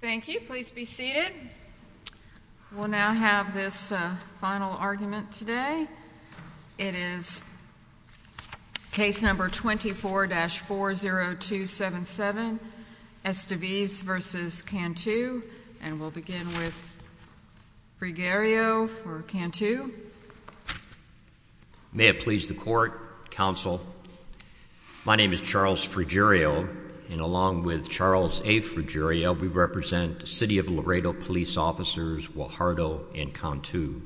Thank you. Please be seated. We'll now have this final argument today. It is case number 24-40277, Estevez v. Cantu. And we'll begin with Fregario for Cantu. May it please the Court, Counsel. My name is Charles Fregario, and along with Charles A. Fregario, we represent the City of Laredo Police Officers Guajardo and Cantu.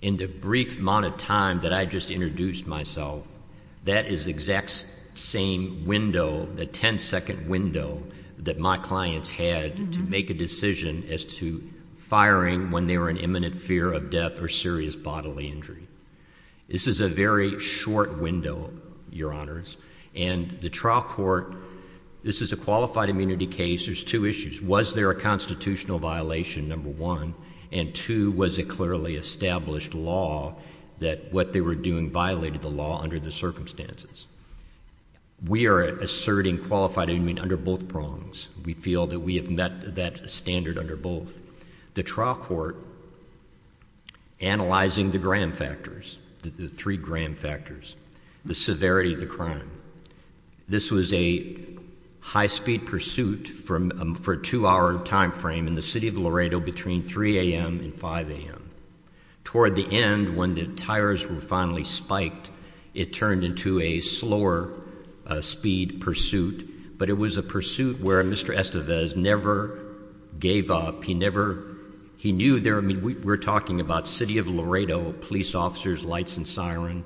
In the brief amount of time that I just introduced myself, that is the exact same window, the ten-second window that my clients had to make a decision as to firing when they were in fear of death or serious bodily injury. This is a very short window, Your Honors, and the trial court, this is a qualified immunity case, there's two issues. Was there a constitutional violation, number one, and two, was it clearly established law that what they were doing violated the law under the circumstances? We are asserting qualified immunity under both prongs. We feel that we have met that standard under both. The trial court, analyzing the gram factors, the three gram factors, the severity of the crime, this was a high-speed pursuit for a two-hour time frame in the City of Laredo between 3 a.m. and 5 a.m. Toward the end, when the tires were finally spiked, it turned into a slower speed pursuit, but it was a pursuit where Mr. Estevez never gave up. He knew, we're talking about City of Laredo, police officers, lights and siren,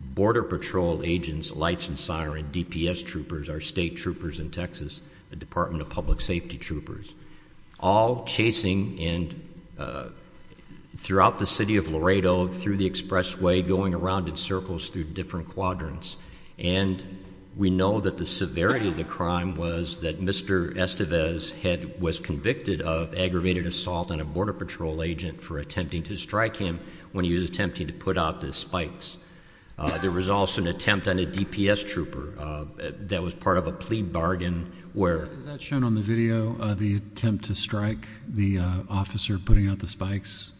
border patrol agents, lights and siren, DPS troopers, our state troopers in Texas, the Department of Public Safety troopers, all chasing throughout the City of Laredo, through the expressway, going around in circles through different quadrants. And we know that the severity of the crime was that Mr. Estevez was convicted of aggravated assault on a border patrol agent for attempting to strike him when he was attempting to put out the spikes. There was also an attempt on a DPS trooper that was part of a plea bargain where... Is that shown on the video, the attempt to strike the officer putting out the spikes?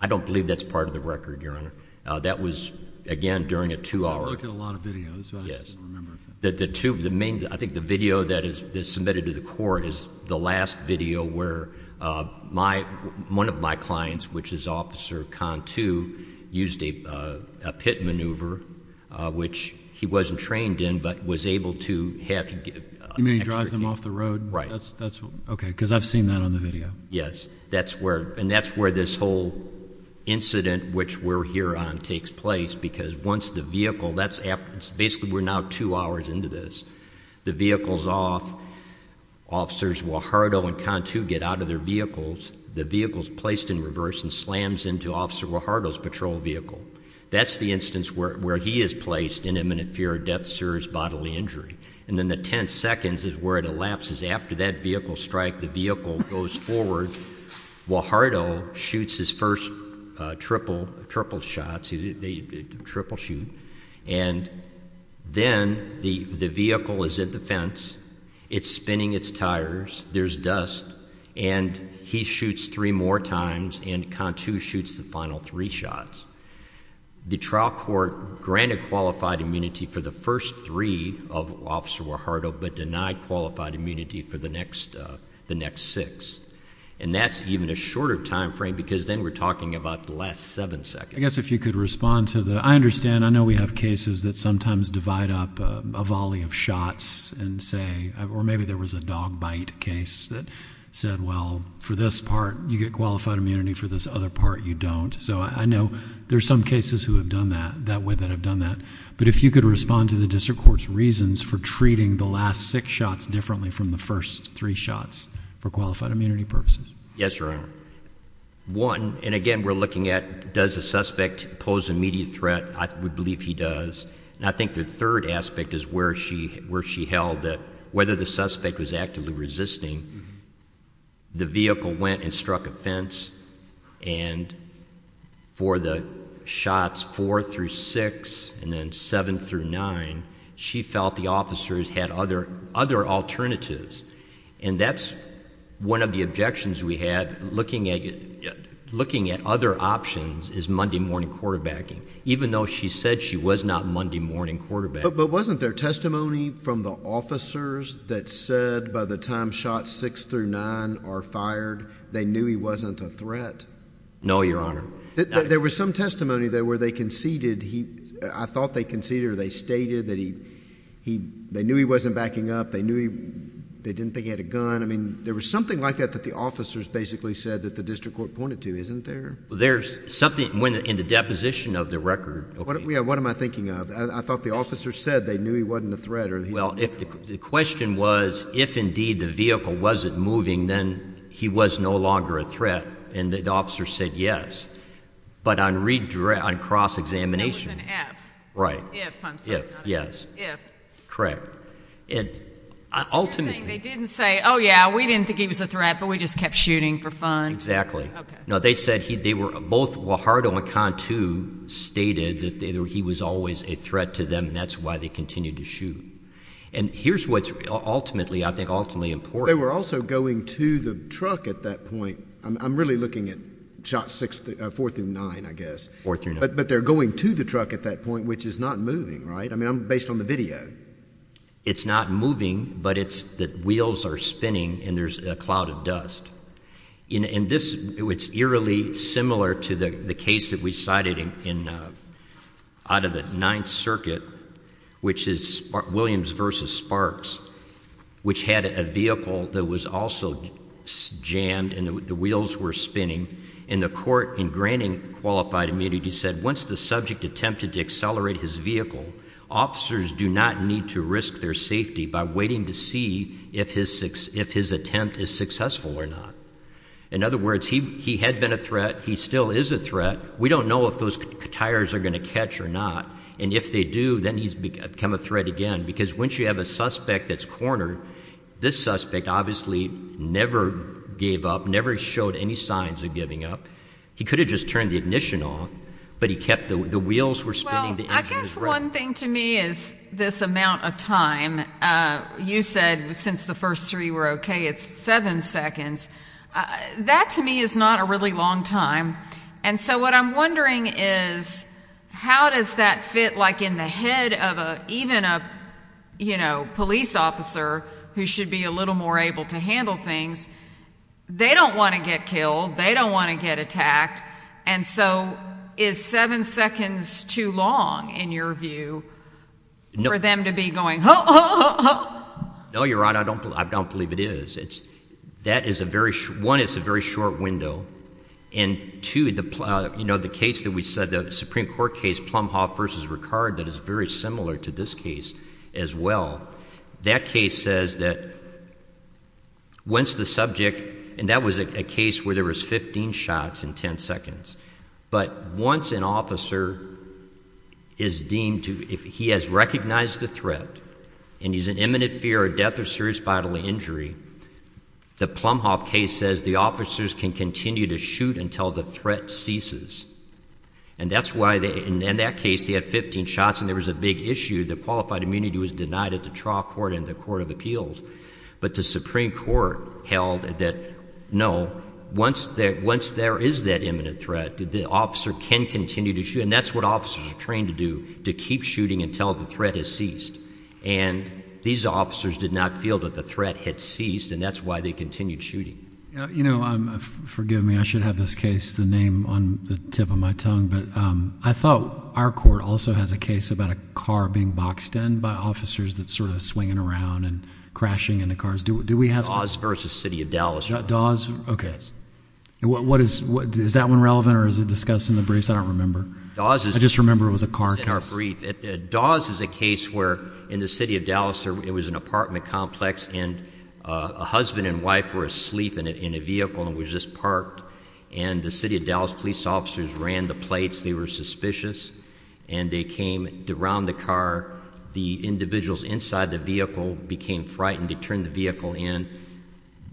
I don't believe that's part of the record, Your Honor. That was, again, during a two-hour... I looked at a lot of videos, so I just don't remember. I think the video that is submitted to the court is the last video where one of my clients, which is Officer Cantu, used a pit maneuver, which he wasn't trained in, but was able to have... You mean he drives them off the road? Right. Okay, because I've seen that on the incident which we're here on takes place, because once the vehicle... Basically, we're now two hours into this. The vehicle's off. Officers Guajardo and Cantu get out of their vehicles. The vehicle's placed in reverse and slams into Officer Guajardo's patrol vehicle. That's the instance where he is placed in imminent fear of death, serious bodily injury. And then the 10 seconds is where it elapses. After that vehicle strike, the vehicle goes forward. Guajardo shoots his first triple shots. They triple shoot. And then the vehicle is at the fence. It's spinning its tires. There's dust. And he shoots three more times, and Cantu shoots the final three shots. The trial court granted qualified immunity for the first three of Officer Guajardo, but denied qualified immunity for the next six. And that's even a shorter timeframe, because then we're talking about the last seven seconds. I guess if you could respond to the... I understand. I know we have cases that sometimes divide up a volley of shots and say... Or maybe there was a dog bite case that said, well, for this part, you get qualified immunity. For this other part, you don't. So I know there's some cases that have done that, but if you could respond to the district court's reasons for treating the last six shots differently from the first three shots for qualified immunity purposes. Yes, Your Honor. One, and again, we're looking at does the suspect pose an immediate threat? I would believe he does. And I think the third aspect is where she held that whether the suspect was actively resisting, the vehicle went and struck a fence. And for the shots four through six, and then seven through nine, she felt the officers had other alternatives. And that's one of the objections we have. Looking at other options is Monday morning quarterbacking, even though she said she was not Monday morning quarterbacking. But wasn't there testimony from the officers that said by the time shots six through nine are fired, they knew he wasn't a threat? No, Your Honor. There was some testimony where they conceded he... I thought they conceded or they stated that they knew he wasn't backing up. They knew they didn't think he had a gun. I mean, there was something like that that the officers basically said that the district court pointed to, isn't there? There's something in the deposition of the record. What am I thinking of? I thought the officers said they knew he wasn't a threat. Well, the question was if indeed the vehicle wasn't moving, then he was no longer a threat. And the officers said yes. But on cross-examination... No, it was an if. Right. If, I'm sorry. If, yes. If. Correct. You're saying they didn't say, oh, yeah, we didn't think he was a threat, but we just kept shooting for fun? Exactly. Okay. No, they said they were... Both Guajardo and Cantu stated that he was always a threat to them, and that's why they continued to shoot. And here's what's ultimately, I think, ultimately important. They were also going to the truck at that point. I'm really looking at shots four through nine, I guess. Four through nine. But they're going to the truck at that point, which is not moving, right? I mean, based on the video. It's not moving, but the wheels are spinning and there's a cloud of dust. And this, it's literally similar to the case that we cited out of the Ninth Circuit, which is Williams versus Sparks, which had a vehicle that was also jammed and the wheels were spinning. And the court, in granting qualified immunity, said once the subject attempted to accelerate his vehicle, officers do not need to risk their safety by waiting to see if his attempt is successful or not. In other words, he had been a threat. He still is a threat. We don't know if those tires are going to catch or not. And if they do, then he's become a threat again, because once you have a suspect that's cornered, this suspect obviously never gave up, never showed any signs of giving up. He could have just turned the ignition off, but he kept... The wheels were spinning. Well, I guess one thing to me is this amount of time. You said since the first three were okay, it's seven seconds. That to me is not a really long time. And so what I'm wondering is, how does that fit like in the head of even a police officer who should be a little more able to handle things? They don't want to get killed. They don't want to get attacked. And so is seven seconds too long, in your view, for them to be going, oh, oh, oh, oh? No, you're right. I don't believe it is. One, it's a very short window. And two, the case that we said, the Supreme Court case, Plumhoff versus Ricard, that is very similar to this case as well. That case says that once the subject... And that was a case where there was 15 shots in 10 seconds. But once an officer is deemed to... He has recognized the threat and he's in imminent fear of death or serious bodily injury, the Plumhoff case says the officers can continue to shoot until the threat ceases. And that's why, in that case, he had 15 shots and there was a big issue. The qualified immunity was denied at the trial court and the court of appeals. But the Supreme Court held that no, once there is that imminent threat, the officer can continue to shoot. And that's what officers are trained to do, to keep shooting until the threat has ceased. And these officers did not feel that the threat had ceased, and that's why they continued shooting. You know, forgive me, I should have this case, the name on the tip of my tongue, but I thought our court also has a case about a car being boxed in by officers that's sort of swinging around and crashing into cars. Do we have... Dawes versus City of Dallas. Dawes, okay. Is that one relevant or is it discussed in the briefs? I don't remember. I just remember it was a car case. Dawes is a case where, in the City of Dallas, it was an apartment complex, and a husband and wife were asleep in a vehicle and was just parked. And the City of Dallas police officers ran the plates. They were suspicious. And they came around the car. The individuals inside the vehicle became frightened. They turned the vehicle in,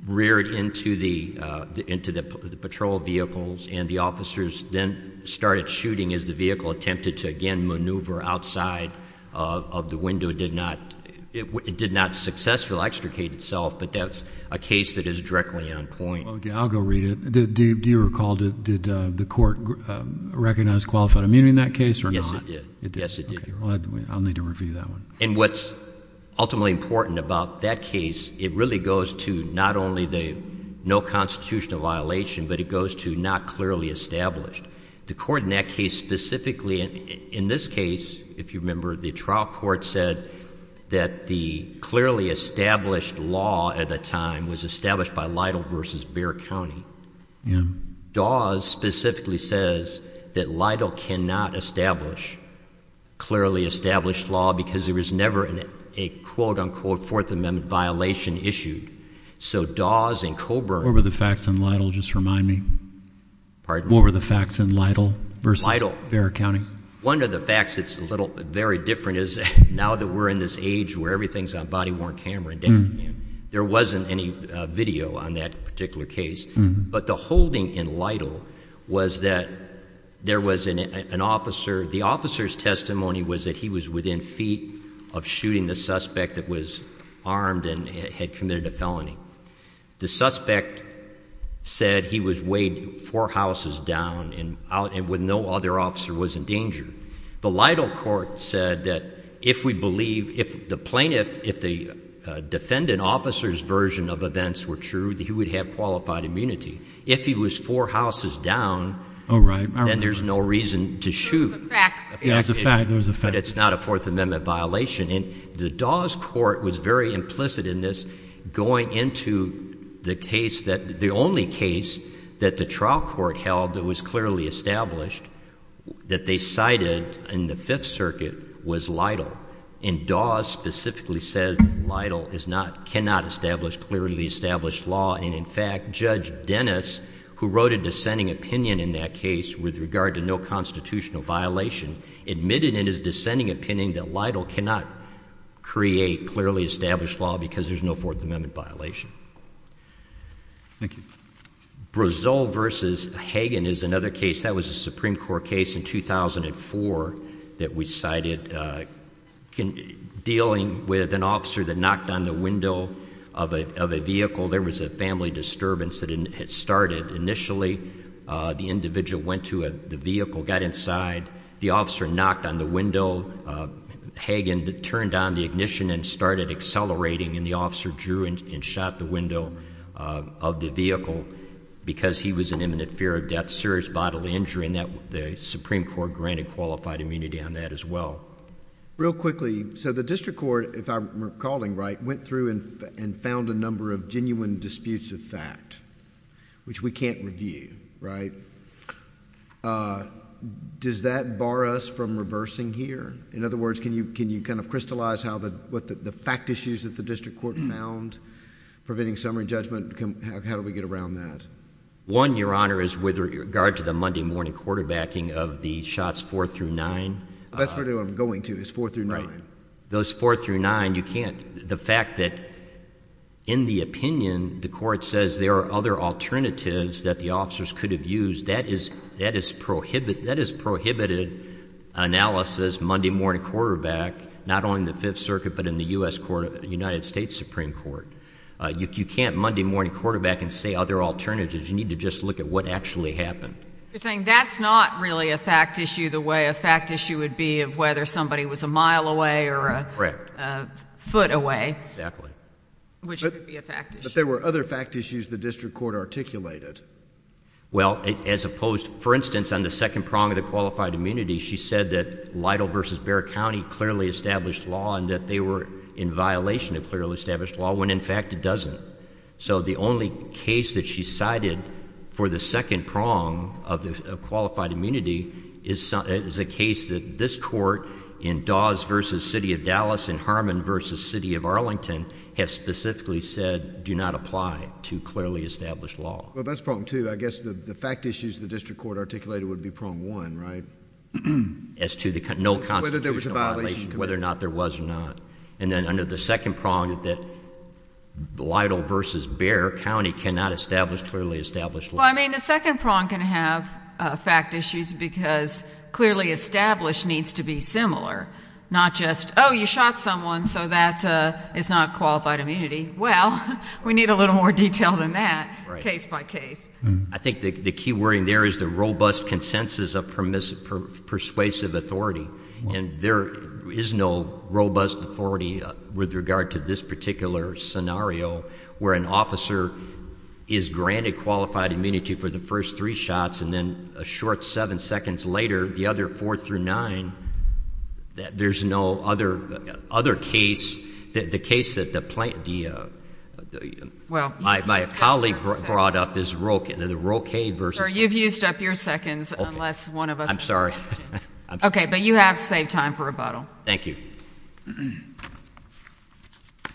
reared into the patrol vehicles, and the officers then started shooting as the vehicle attempted to, again, maneuver outside of the window. It did not successfully extricate itself, but that's a case that is directly on point. Okay, I'll go read it. Do you recall, did the court recognize qualified immunity in that case or not? Yes, it did. Yes, it did. Okay. I'll need to review that one. And what's ultimately important about that case, it really goes to not only the no constitutional violation, but it goes to not clearly established. The court in that case specifically, in this case, if you remember, the trial court said that the clearly established law at the time was established by Lytle v. Bexar County. Dawes specifically says that Lytle cannot establish clearly established law because there was never a quote-unquote Fourth Amendment violation issued. So Dawes and Colburn... What were the facts in Lytle? Just remind me. Pardon? What were the facts in Lytle v. Bexar County? One of the facts that's a little very different is that now that we're in this age where everything's on body-worn camera, there wasn't any video on that particular case. But the holding in Lytle was that there was an officer, the officer's testimony was that he was within feet of shooting the suspect that was armed and had committed a felony. The suspect said he was weighed four houses down and with no other officer was in danger. The Lytle court said that if we believe, if the plaintiff, if the defendant officer's version of events were true, that he would have qualified immunity. If he was four houses down, then there's no reason to shoot. There was a fact. But it's not a Fourth Amendment violation. And the Dawes court was very implicit in this, going into the case that the only case that the trial court held that was clearly established that they cited in the Fifth Circuit was Lytle. And Dawes specifically says that Lytle is not, cannot establish clearly established law. And in fact, Judge Dennis, who wrote a dissenting opinion in that case with regard to no constitutional violation, admitted in his dissenting opinion that Lytle cannot create clearly established law because there's no Fourth Amendment violation. Thank you. Brazile v. Hagen is another case. That was a Supreme Court case in 2004 that we cited dealing with an officer that knocked on the window of a vehicle. There was a family disturbance that had started. Initially, the individual went to the vehicle, got inside. The officer knocked on the window. Hagen turned on the ignition and started accelerating. And the officer drew and shot the window of the vehicle because he was in imminent fear of death, serious bodily injury. And the Supreme Court granted qualified immunity on that as well. Real quickly, so the district court, if I'm recalling right, went through and found a number of genuine disputes of fact, which we can't review, right? Does that bar us from reversing here? In other words, can you, can you kind of crystallize how the, what the fact issues that the district court found, preventing summary judgment, how do we get around that? One, Your Honor, is with regard to the Monday morning quarterbacking of the shots four through nine. That's really what I'm going to, is four through nine. Those four through nine, you can't, the fact that in the opinion, the court says there are other alternatives that the officers could have used, that is, that is prohibited, that is prohibited analysis, Monday morning quarterback, not only in the Fifth Circuit, but in the U.S. Court of, United States Supreme Court. You can't Monday morning quarterback and say other alternatives. You need to just look at what actually happened. You're saying that's not really a fact issue the way a fact issue would be of whether somebody was a mile away or a foot away, which could be a fact issue. But there were other fact issues the district court articulated. Well, as opposed, for instance, on the second prong of the qualified immunity, she said that Lytle versus Bexar County clearly established law and that they were in violation of clearly established law, when in fact it doesn't. So the only case that she cited for the second court in Dawes versus City of Dallas and Harmon versus City of Arlington have specifically said do not apply to clearly established law. Well, that's prong two. I guess the fact issues the district court articulated would be prong one, right? As to the, no constitutional violation, whether or not there was or not. And then under the second prong that Lytle versus Bexar County cannot establish clearly established law. Well, I mean, the second prong can have fact issues because clearly established needs to be similar, not just, oh, you shot someone, so that is not qualified immunity. Well, we need a little more detail than that case by case. I think the key word in there is the robust consensus of persuasive authority. And there is no robust authority with regard to this particular scenario where an officer is granted qualified immunity for the first three shots and then a short seven seconds later, the other four through nine, there is no other case. The case that my colleague brought up is the Roque versus Bexar. You've used up your seconds unless one of us. I'm sorry. Okay. But you have saved time for rebuttal. Thank you.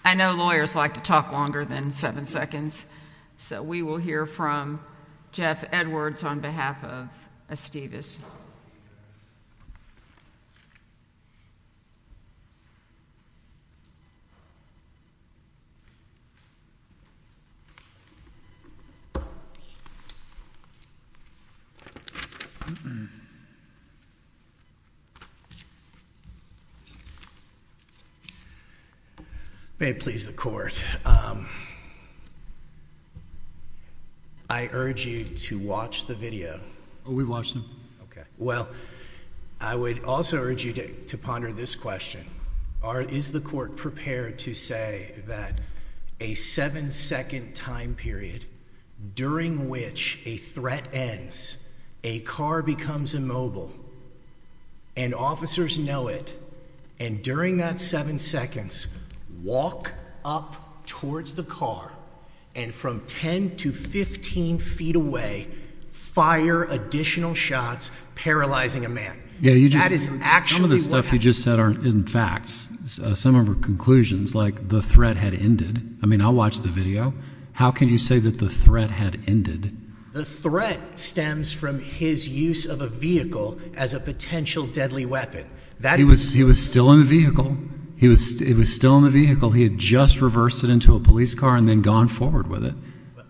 I know lawyers like to talk longer than seven seconds, so we will hear from Jeff Edwards on behalf of Estivas. May it please the court. I urge you to watch the video. We watched them. Well, I would also urge you to ponder this question. Is the court prepared to say that a seven second time period during which a threat ends, a car becomes immobile, and officers know it, and during that seven seconds, walk up towards the car and from 10 to 15 feet away, fire additional shots paralyzing a man? Some of the stuff you just said aren't facts. Some of them are conclusions, like the threat had ended. I mean, I watched the video. How can you say that the threat had ended? The threat stems from his use of a vehicle as a potential deadly weapon. He was still in the vehicle. He was still in the vehicle. He had just reversed it into a police car and then gone forward with it.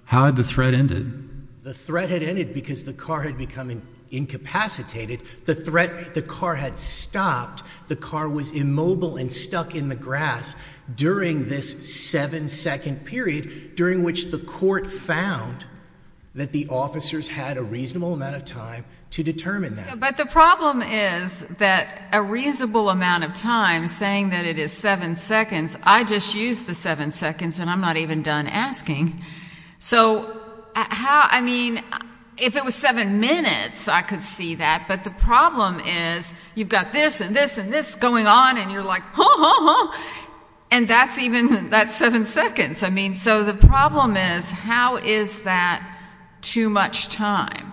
How had the threat ended? The threat had ended because the car had become incapacitated. The threat, the car had stopped. The car was immobile and stuck in the grass during this seven second period during which the court found that the officers had a reasonable amount of time to determine that. But the problem is that a reasonable amount of time, saying that it is seven seconds, I just used the seven seconds and I'm not even done asking. So how, I mean, if it was seven minutes, I could see that, but the problem is you've got this and this and this going on and you're like, and that's even, that's seven seconds. I mean, so the problem is how is that too much time?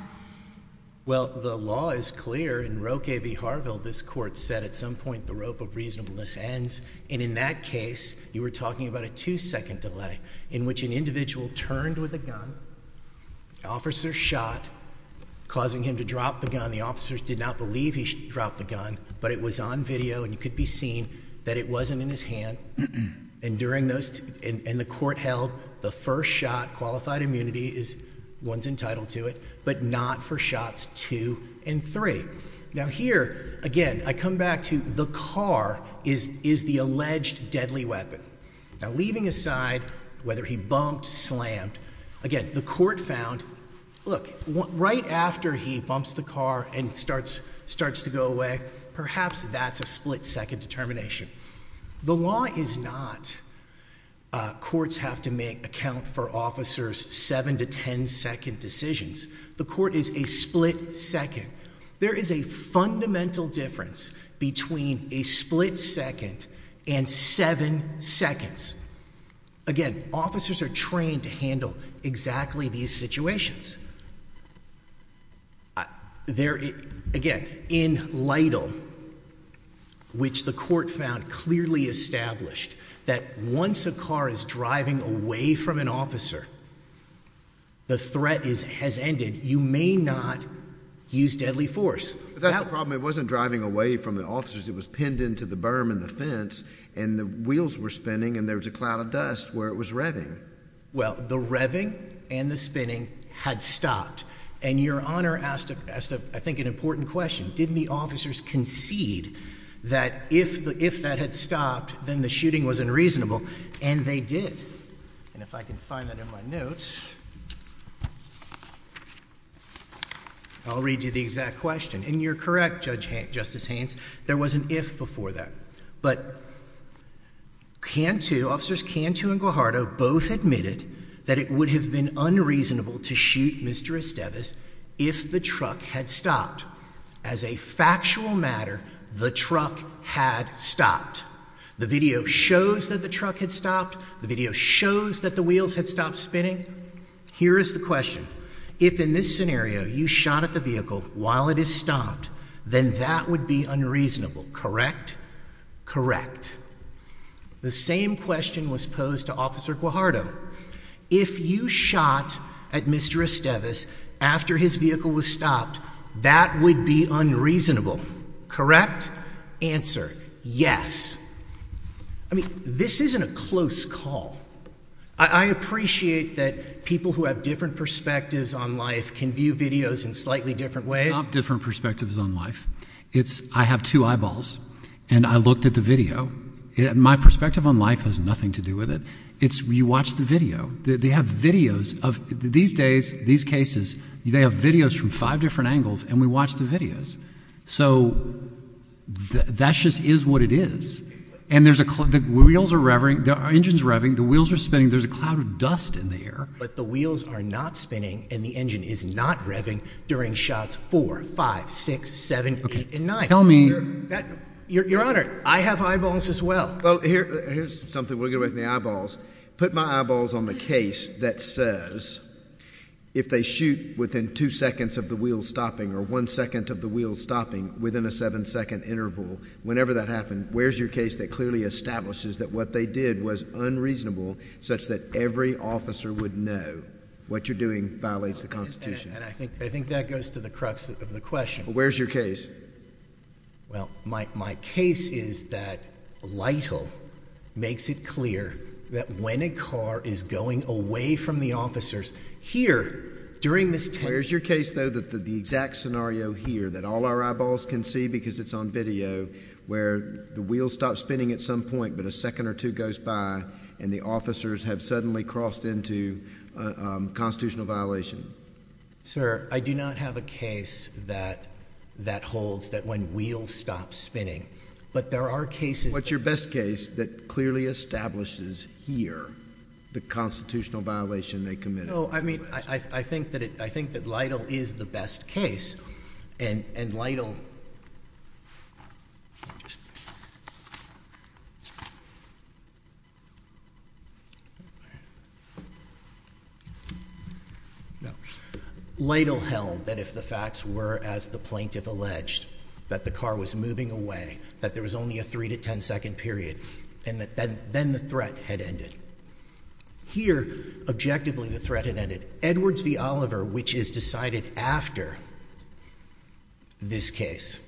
Well the law is clear. In Roque v. Harville, this court said at some point the rope of reasonableness ends. And in that case, you were talking about a two second delay in which an individual turned with a gun, officer shot, causing him to drop the gun. The officers did not believe he dropped the gun, but it was on video and you could be seen that it wasn't in his hand. And during those, and the court held the first shot, qualified immunity is one's entitled to it, but not for shots two and three. Now here again, I come back to the car is, is the alleged deadly weapon. Now leaving aside whether he bumped, slammed, again, the court found, look, right after he bumps the car and starts, starts to go away, perhaps that's a split second determination. The law is not, uh, courts have to make account for officers seven to 10 second decisions. The court is a split second. There is a fundamental difference between a split second and seven seconds. Again, officers are trained to handle exactly these situations. There, again, in Lytle, which the court found clearly established that once a car is driving away from an officer, the threat is, has ended. You may not use deadly force. That's the problem. It wasn't driving away from the officers. It was pinned into the berm and the fence and the wheels were spinning and there was a cloud of dust where it was revving. Well, the revving and the spinning had stopped and your honor asked a, asked a, I think an important question. Didn't the officers concede that if the, if that had stopped, then the shooting was unreasonable and they did. And if I can find that in my notes, I'll read you the exact question and you're correct. Judge Justice Haynes, there was an if before that, but can to officers can to and Guajardo both admitted that it would have been unreasonable to shoot Mr. Estevez if the truck had stopped. As a factual matter, the truck had stopped. The video shows that the truck had stopped. The video shows that the wheels had stopped spinning. Here is the question. If in this scenario you shot at the vehicle while it is stopped, then that would be unreasonable, correct? Correct. The same question was posed to officer Guajardo. If you shot at Mr. Estevez after his vehicle was stopped, that would be unreasonable, correct? Answer. Yes. I mean, this isn't a close call. I appreciate that people who have different perspectives on life can view videos in slightly different ways. It's not different perspectives on life. It's, I have two eyeballs and I looked at the video. My perspective on life has nothing to do with it. It's, you watch the video. They have videos of, these days, these cases, they have videos from five different angles and we watch the videos. So, that just is what it is. And there's a, the wheels are revving, the engine is revving, the wheels are spinning, there's a cloud of dust in the air. But the wheels are not spinning and the engine is not revving during shots four, five, six, seven, eight, and nine. Tell me. Your Honor, I have eyeballs as well. Well, here's something we'll get away with in the eyeballs. Put my eyeballs on the case that says if they shoot within two seconds of the wheels stopping or one second of the wheels stopping within a seven second interval, whenever that happened, where's your case that clearly establishes that what they did was unreasonable such that every officer would know what you're doing violates the Constitution? And I think, I think that goes to the crux of the question. Where's your case? Well, my, my case is that Lytle makes it clear that when a car is going away from the officers, here, during this test. Where's your case, though, that the exact scenario here, that all our eyeballs can see because it's on video, where the wheels stop spinning at some point, but a second or two goes by and the officers have suddenly crossed into a constitutional violation? Sir, I do not have a case that, that holds that when wheels stop spinning. But there are cases. What's your best case that clearly establishes here the constitutional violation they committed? No, I mean, I think that it, I think that Lytle is the best case. And, and Lytle, Lytle held that if the facts were, as the plaintiff alleged, that the car was moving away, that there was only a three to ten second period, and that then, then the threat had ended. Here, objectively, the threat had ended. Edwards v. Oliver, which is decided after this case,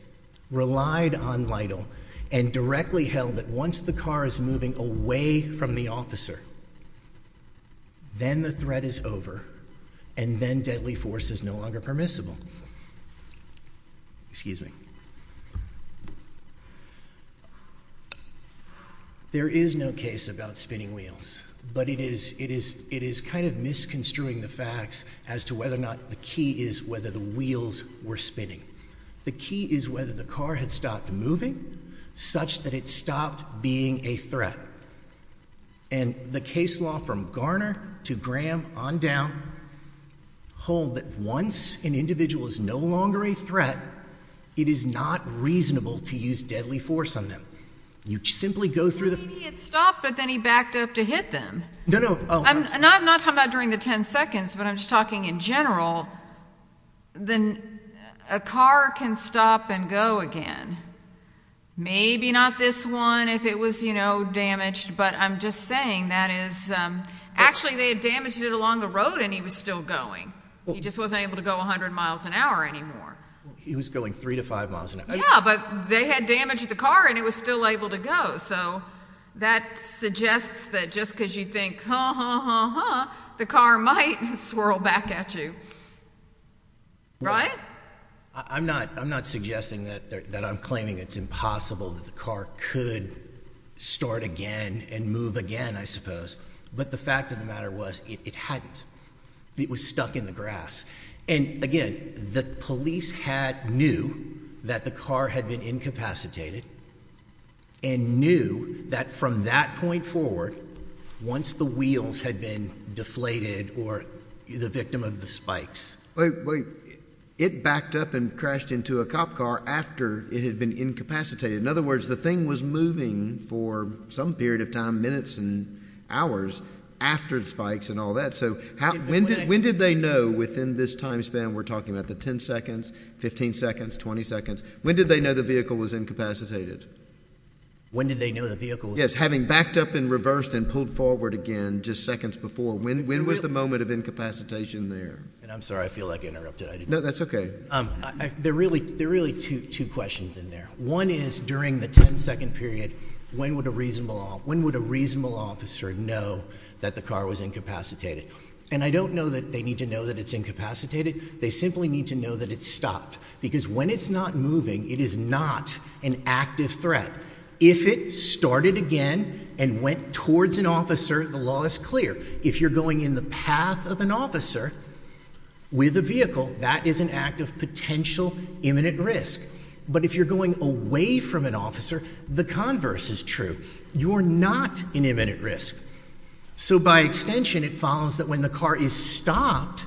relied on Lytle and directly held that once the car is moving away from the officer, then the threat is over, and then deadly force is no longer permissible. Excuse me. There is no case about spinning wheels, but it is, it's kind of misconstruing the facts as to whether or not the key is whether the wheels were spinning. The key is whether the car had stopped moving such that it stopped being a threat. And the case law from Garner to Graham on down hold that once an individual is no longer a threat, it is not reasonable to use deadly force on them. You simply go through the. Maybe he had stopped, but then he backed up to hit them. No, no. I'm not talking about during the ten seconds, but I'm just talking in general. Then a car can stop and go again. Maybe not this one if it was, you know, damaged, but I'm just saying that is, actually they had damaged it along the road and he was still going. He just wasn't able to go 100 miles an hour anymore. He was going three to five miles an hour. Yeah, but they had damaged the car and it was still able to go. So that suggests that just because you think, huh, the car might swirl back at you, right? I'm not, I'm not suggesting that I'm claiming it's impossible that the car could start again and move again, I suppose. But the fact of the matter was it hadn't. It was stuck in the grass. And again, the police had knew that the car had been incapacitated and knew that from that point forward, once the wheels had been deflated or the victim of the spikes, it backed up and crashed into a cop car after it had been incapacitated. In other words, the thing was moving for some period of time, minutes and hours after the spikes and all that. So how, when did, when in this time span we're talking about the 10 seconds, 15 seconds, 20 seconds, when did they know the vehicle was incapacitated? When did they know the vehicle? Yes. Having backed up and reversed and pulled forward again just seconds before, when, when was the moment of incapacitation there? And I'm sorry, I feel like I interrupted. No, that's okay. Um, I, they're really, they're really two, two questions in there. One is during the 10 second period. When would a reasonable, when would a reasonable officer know that the car was incapacitated? And I don't know that they need to know that it's incapacitated. They simply need to know that it's stopped because when it's not moving, it is not an active threat. If it started again and went towards an officer, the law is clear. If you're going in the path of an officer with a vehicle, that is an act of potential imminent risk. But if you're going away from an officer, the converse is true. You are not an imminent risk. So by extension, it follows that when the car is stopped,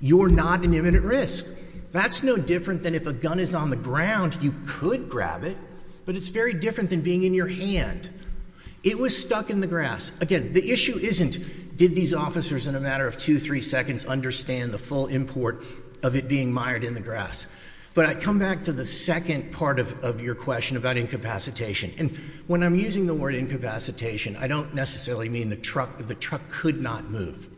you're not an imminent risk. That's no different than if a gun is on the ground, you could grab it, but it's very different than being in your hand. It was stuck in the grass. Again, the issue isn't did these officers in a matter of two, three seconds understand the full import of it being mired in the grass. But I come back to the second part of, of your question about incapacitation. And when I'm using the word incapacitation, I don't necessarily mean the truck, the truck could not move.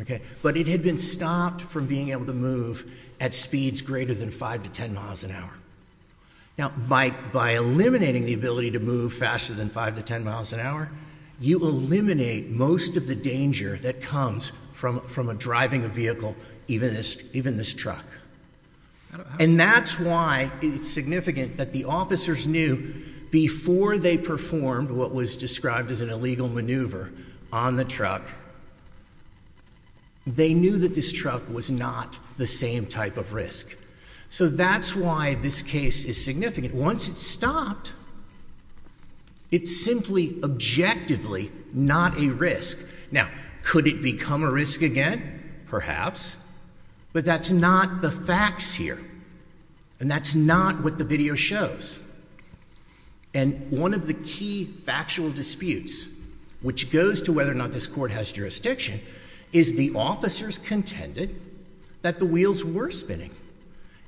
Okay. But it had been stopped from being able to move at speeds greater than five to 10 miles an hour. Now by, by eliminating the ability to move faster than five to 10 miles an hour, you eliminate most of the danger that comes from, from a driving a vehicle, even this, even this truck. And that's why it's significant that the officers knew before they performed what was described as an illegal maneuver on the truck, they knew that this truck was not the same type of risk. So that's why this case is significant. Once it's stopped, it's simply objectively not a risk. Now, could it become a risk again? Perhaps, but that's not the facts here. And that's not what the video shows. And one of the key factual disputes, which goes to whether or not this court has jurisdiction, is the officers contended that the wheels were spinning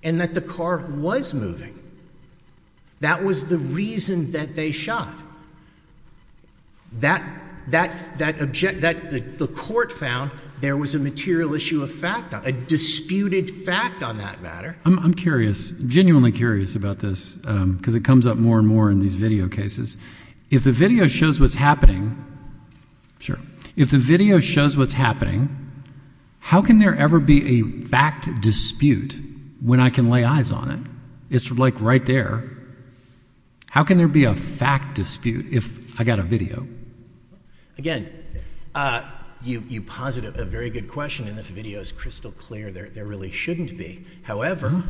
and that the car was moving. That was the reason that they shot. That, that, that object, that the court found there was a material issue of fact, a disputed fact on that matter. I'm curious, genuinely curious about this, because it comes up more and more in these video cases. If the video shows what's happening, sure. If the video shows what's happening, how can there ever be a fact dispute when I can lay eyes on it? It's like right there. How can there be a fact dispute if I got a video? Again, you, you posit a very good question, and the video is crystal clear. There, there really shouldn't be. However,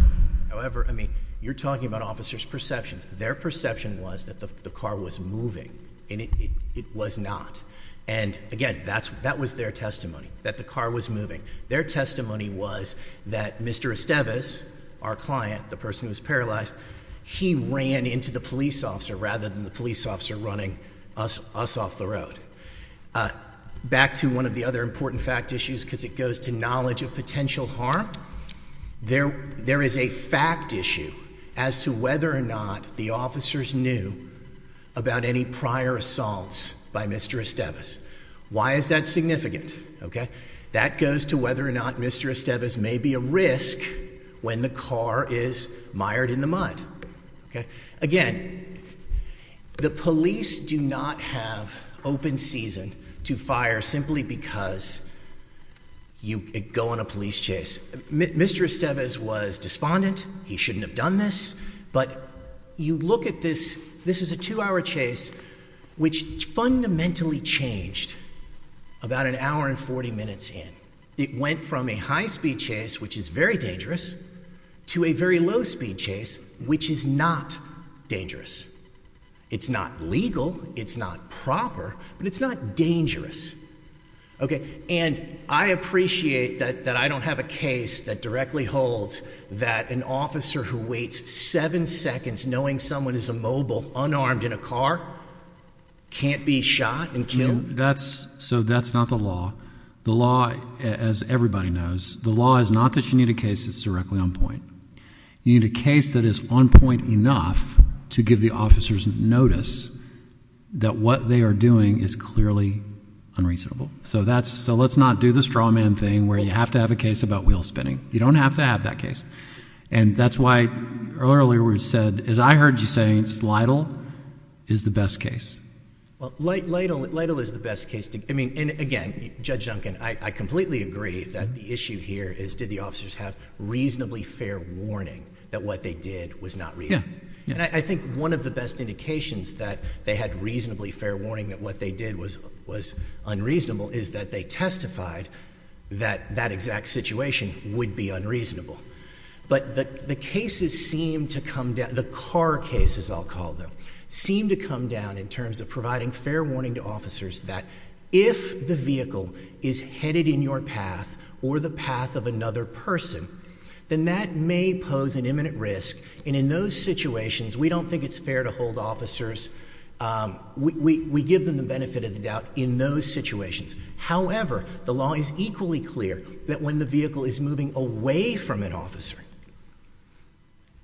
however, I mean, you're talking about officers' perceptions. Their perception was that the car was moving, and it, it, it was not. And again, that's, that was their testimony, that the car was moving. Their testimony was that Mr. Estevez, our client, the person who was paralyzed, he ran into the police officer rather than the police officer running us, us off the road. Back to one of the other important fact issues, because it goes to knowledge of potential harm. There, there is a fact issue as to whether or not the officers knew about any prior assaults by Mr. Estevez. Why is that significant? Okay. That goes to whether or not Mr. Estevez may be a risk when the car is mired in the mud. Okay. Again, the police do not have open season to fire simply because you go on a police chase. Mr. Estevez was despondent. He shouldn't have done this. But you look at this, this is a two-hour chase, which fundamentally changed about an hour and 40 minutes in. It went from a high-speed chase, which is very dangerous, to a very low-speed chase, which is not dangerous. It's not legal, it's not proper, but it's not dangerous. Okay. And I appreciate that, that I don't have a case that directly holds that an officer who waits seven seconds knowing someone is immobile, unarmed in a car, can't be shot and killed. That's, so that's not the law. The law, as everybody knows, the law is not that you need a case that's directly on point. You need a case that is on point enough to give the officers notice that what they are doing is clearly unreasonable. So that's, so let's not do the straw man thing where you have to have a case about wheel spinning. You don't have to have that case. And that's why, earlier we said, as I heard you say, Slidle is the best case. Well, Lidle is the best case. I mean, and again, Judge Duncan, I completely agree that the issue here is did the officers have reasonably fair warning that what they did was not reasonable. And I think one of the best indications that they had reasonably fair warning that what they did was unreasonable is that they testified that that exact situation would be unreasonable. But the cases seem to come down, the car cases, I'll call them, seem to come down in terms of providing fair warning to officers that if the vehicle is headed in your path or the path of another person, then that may pose an imminent risk. And in those situations, we don't think it's fair to hold officers. We give them the benefit of the doubt in those situations. However, the law is equally clear that when the vehicle is moving away from an officer,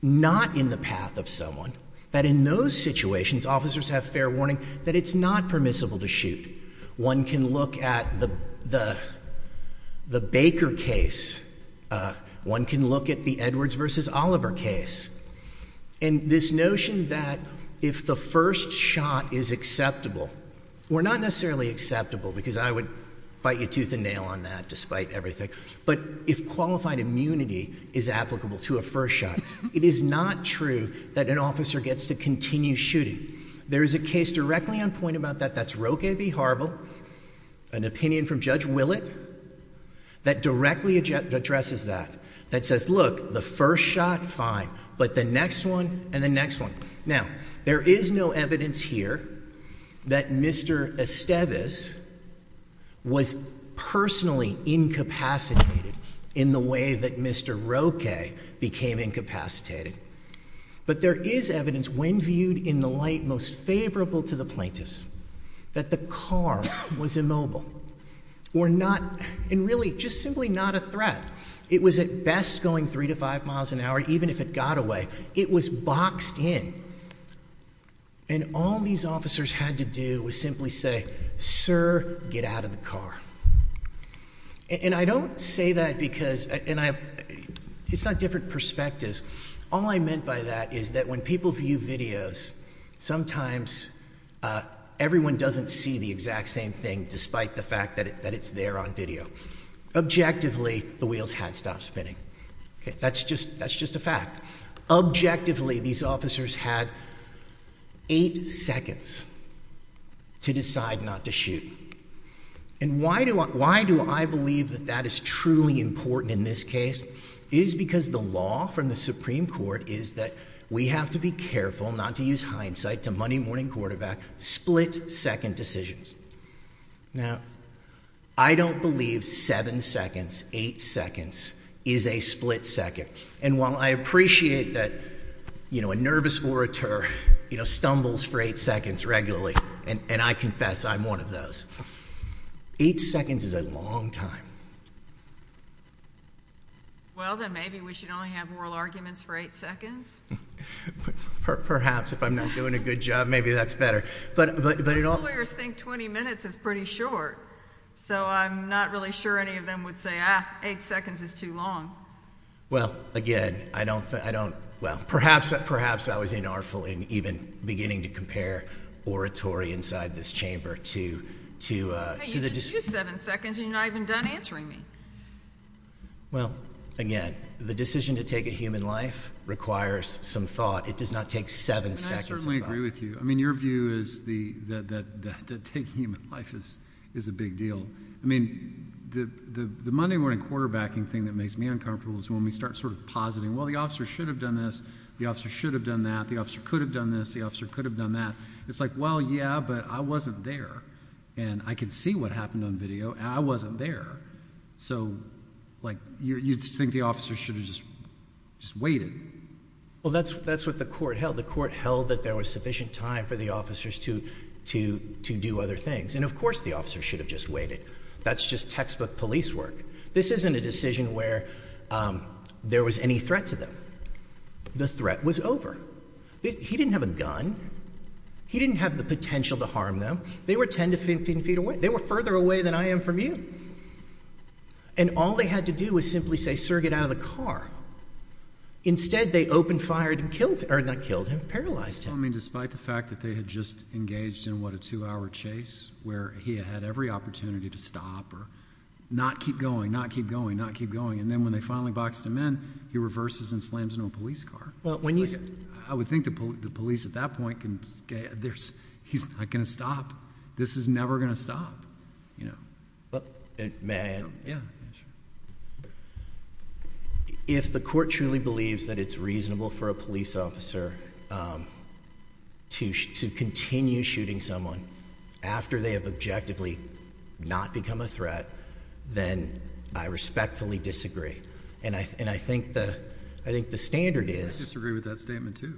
not in the path of someone, that in those situations, officers have fair warning that it's not permissible to shoot. One can look at the Baker case. One can look at the Edwards v. Oliver case. And this notion that if the first shot is acceptable, or not necessarily acceptable because I would bite your tooth and nail on that despite everything, but if qualified immunity is applicable to a first shot, it is not true that an officer gets to continue shooting. There is a case directly on point about that, that's Roque v. Harville, an opinion from Judge Willett, that directly addresses that. That says, look, the first shot, fine, but the next one and the next one. Now, there is no evidence here that Mr. Esteves, who was personally incapacitated in the way that Mr. Roque became incapacitated. But there is evidence, when viewed in the light most favorable to the plaintiffs, that the car was immobile. Or not, and really, just simply not a threat. It was at best going three to five miles an hour, even if it got away. It was boxed in. And all these officers had to do was simply say, sir, get out of the car. And I don't say that because, and it's not different perspectives. All I meant by that is that when people view videos, sometimes everyone doesn't see the exact same thing, despite the fact that it's there on video. Objectively, the wheels had stopped spinning. That's just a fact. Objectively, these officers had eight seconds to decide not to shoot. And why do I believe that that is truly important in this case? It is because the law from the Supreme Court is that we have to be careful not to use hindsight to money morning quarterback split second decisions. Now, I don't believe seven seconds, eight seconds is a split second. And while I appreciate that, you know, a nervous orator, you know, stumbles for eight seconds regularly. And I confess, I'm one of those. Eight seconds is a long time. Well, then maybe we should only have oral arguments for eight seconds. Perhaps. If I'm not doing a good job, maybe that's better. But lawyers think 20 minutes is pretty short. So I'm not really sure any of them would say, ah, eight seconds is too long. Well, again, I don't think I don't. Well, perhaps, perhaps I was in our full and even beginning to compare oratory inside this chamber to to to the seven seconds. You know, I've been done answering me. Well, again, the decision to take a human life requires some thought. It does not take seven seconds. I certainly agree with you. I mean, your view is the that that that taking him life is is a big deal. I mean, the the the Monday morning quarterbacking thing that makes me uncomfortable is when we start sort of positing, well, the officer should have done this. The officer should have done that. The officer could have done this. The officer could have done that. It's like, well, yeah, but I wasn't there and I could see what happened on video. I wasn't there. So, like, you think the officer should have just just waited. Well, that's that's what the court held. The court held that there was sufficient time for the officers to to to do other things. And of course, the officer should have just waited. That's just textbook police work. This isn't a decision where there was any threat to them. The threat was over. He didn't have a gun. He didn't have the potential to harm them. They were 10 to 15 feet away. They were further away than I am from you. And all they had to do was simply say, sir, get out of the car. Instead, they opened, fired and killed or not killed him, paralyzed him. I mean, despite the fact that they had just engaged in what a two hour chase where he had every opportunity to stop or not keep going, not keep going, not keep going. And then when they finally boxed him in, he reverses and slams into a police car. Well, when you say I would think the police at that point can there's he's not going to stop. This is never going to stop. You know, but man. Yeah. If the court truly believes that it's reasonable for a police officer, um, to to continue shooting someone after they have objectively not become a threat, then I respectfully disagree. And I and I think the I think the standard is disagree with that statement to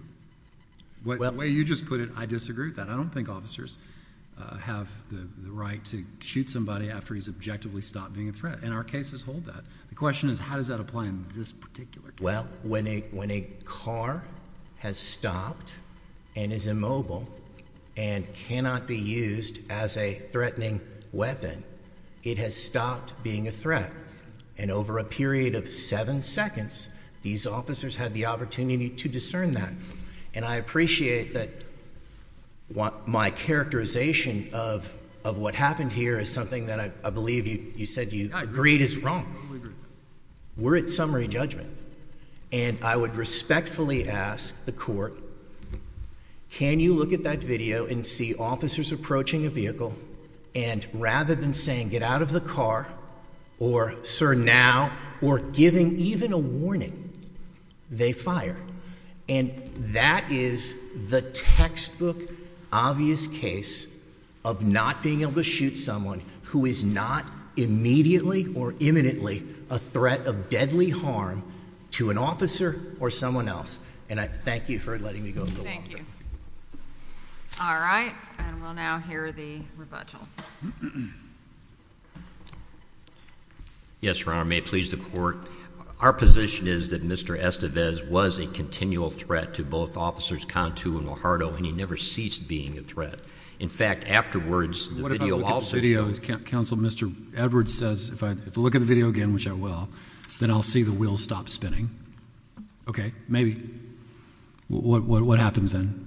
what way you just put it. I disagree that I don't think officers have the right to shoot somebody after he's objectively stopped being a threat. And our cases hold that the question is, how does that apply in this particular? Well, when a when a car has stopped and is immobile and cannot be used as a threatening weapon, it has stopped being a threat. And over a period of seven seconds, these officers had the opportunity to discern that. And I appreciate that my characterization of of what happened here is something that I believe you said you agreed is wrong. We're at summary judgment, and I would respectfully ask the court. Can you look at that video and see officers approaching a vehicle and rather than saying, Get out of the car or, Sir, now or giving even a warning, they fired. And that is the textbook obvious case of not being able to shoot someone who is not immediately or imminently a threat of deadly harm to an officer or someone else. And I thank you for letting me go. Thank you. All right. And we'll now hear the rebuttal. Yes, Your Honor. May it please the court. Our position is that Mr. Estevez was a continual threat to both officers, Contu and Lajardo, and he never ceased being a threat. In fact, afterwards, the video video is Council. Mr. Edwards says, If I look at the video again, which I will, then I'll see the wheels stop spinning. OK, maybe. What happens then?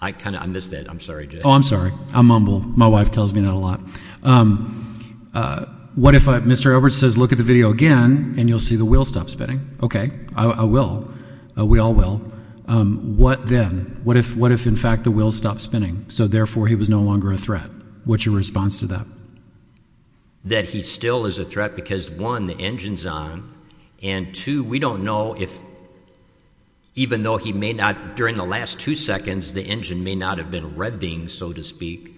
I kind of I missed that. I'm sorry. I'm sorry. I mumble. My wife tells me that a lot. What if Mr. Edwards says, Look at the video again and you'll see the wheels stop spinning? OK, I will. We all will. What then? What if what if in fact the wheels stop spinning? So therefore he was no longer a threat. What's your response to that? That he still is a threat because, one, the engine's on. And two, we don't know if even though he may not during the last two seconds, the engine may not have been revving, so to speak.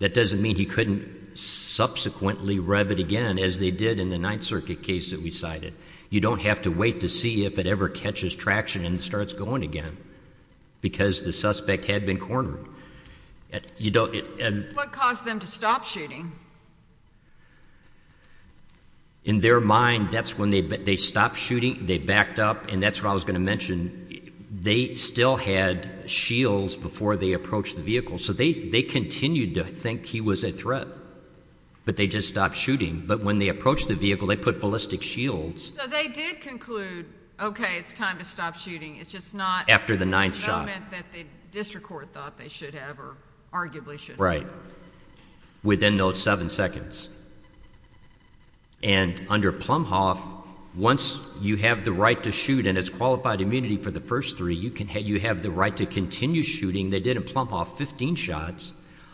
That doesn't mean he couldn't subsequently rev it again, as they did in the Ninth Circuit case that we cited. You don't have to wait to see if it ever catches traction and starts going again because the suspect had been cornered. You don't. And what caused them to stop shooting? In their mind, that's when they they stopped shooting. They backed up. And that's what I was going to mention. They still had shields before they approached the vehicle. So they they continued to think he was a threat, but they just stopped shooting. But when they approached the vehicle, they put ballistic shields. So they did conclude, OK, it's time to stop shooting. It's just not after the ninth shot that the district court thought they should have or arguably should have. Right. Within those seven seconds. And under Plumhoff, once you have the right to shoot and it's qualified immunity for the first three, you have the right to continue shooting. They did in Plumhoff 15 shots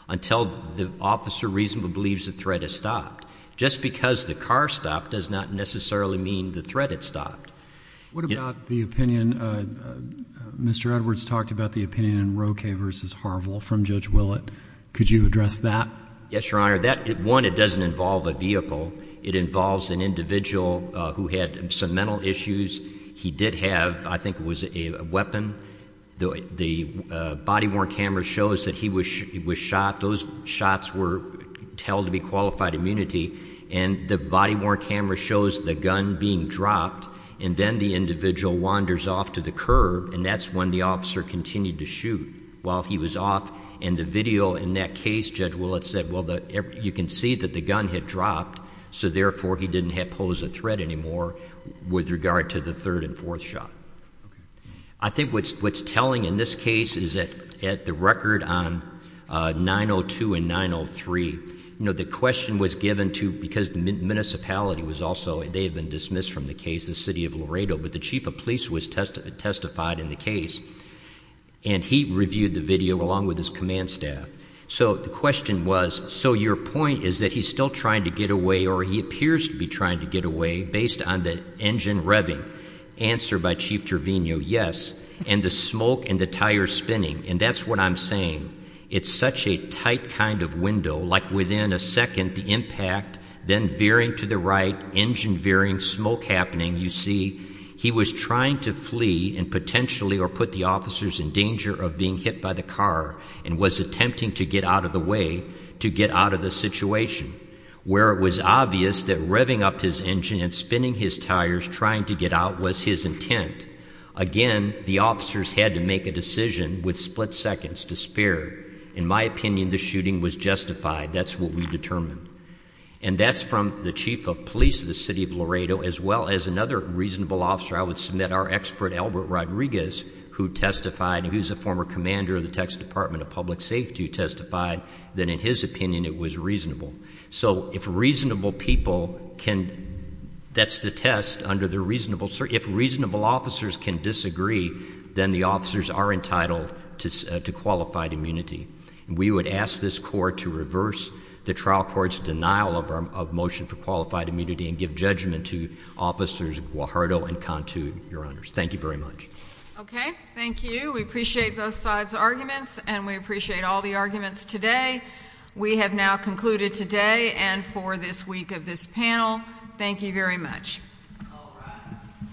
until the officer reasonably believes the threat has stopped. Just because the car stopped does not necessarily mean the threat had stopped. What about the opinion, Mr. Edwards talked about the opinion in Roque versus Harville from Judge Willett. Could you address that? Yes, Your Honor. That one, it doesn't involve a vehicle. It involves an individual who had some mental issues. He did have, I think, was a weapon. The body worn camera shows that he was shot. Those shots were held to be qualified immunity. And the body worn camera shows the gun being dropped. And then the individual wanders off to the curb. And that's when the officer continued to shoot while he was off. And the video in that case, Judge Willett said, well, you can see that the gun had dropped. So therefore, he didn't have pose a threat anymore with regard to the third and fourth shot. I think what's telling in this case is that at the record on 902 and 903, you know, the question was given to, because the municipality was also, they had been dismissed from the case, the city of Laredo. But the chief of police was testified in the case. And he reviewed the video along with his command staff. So the question was, so your point is that he's still trying to get away or he appears to be trying to get away based on the engine revving. Answer by Chief Trevino, yes. And the smoke and the tire spinning. And that's what I'm saying. It's such a tight kind of window, like within a second, the impact, then veering to the right, engine veering, smoke happening. You see, he was trying to flee and potentially or put the officers in danger of being hit by the car and was attempting to get out of the way, to get out of the situation, where it was obvious that revving up his engine and spinning his tires trying to get out was his intent. Again, the officers had to make a decision with split seconds to spare. In my opinion, the shooting was justified. That's what we determined. And that's from the chief of police of the city of Laredo as well as another reasonable officer. I would submit our expert, Albert Rodriguez, who testified and who's a former commander of the Texas Department of Public Safety, who testified that in his opinion it was reasonable. So if reasonable people can, that's the test under the reasonable, if reasonable officers can disagree, then the officers are entitled to qualified immunity. We would ask this Court to reverse the trial court's denial of motion for qualified immunity and give judgment to Officers Guajardo and Cantu, Your Honors. Thank you very much. Okay. Thank you. We appreciate both sides' arguments and we appreciate all the arguments today. We have now concluded today and for this week of this panel. Thank you very much. All rise. We're adjourned.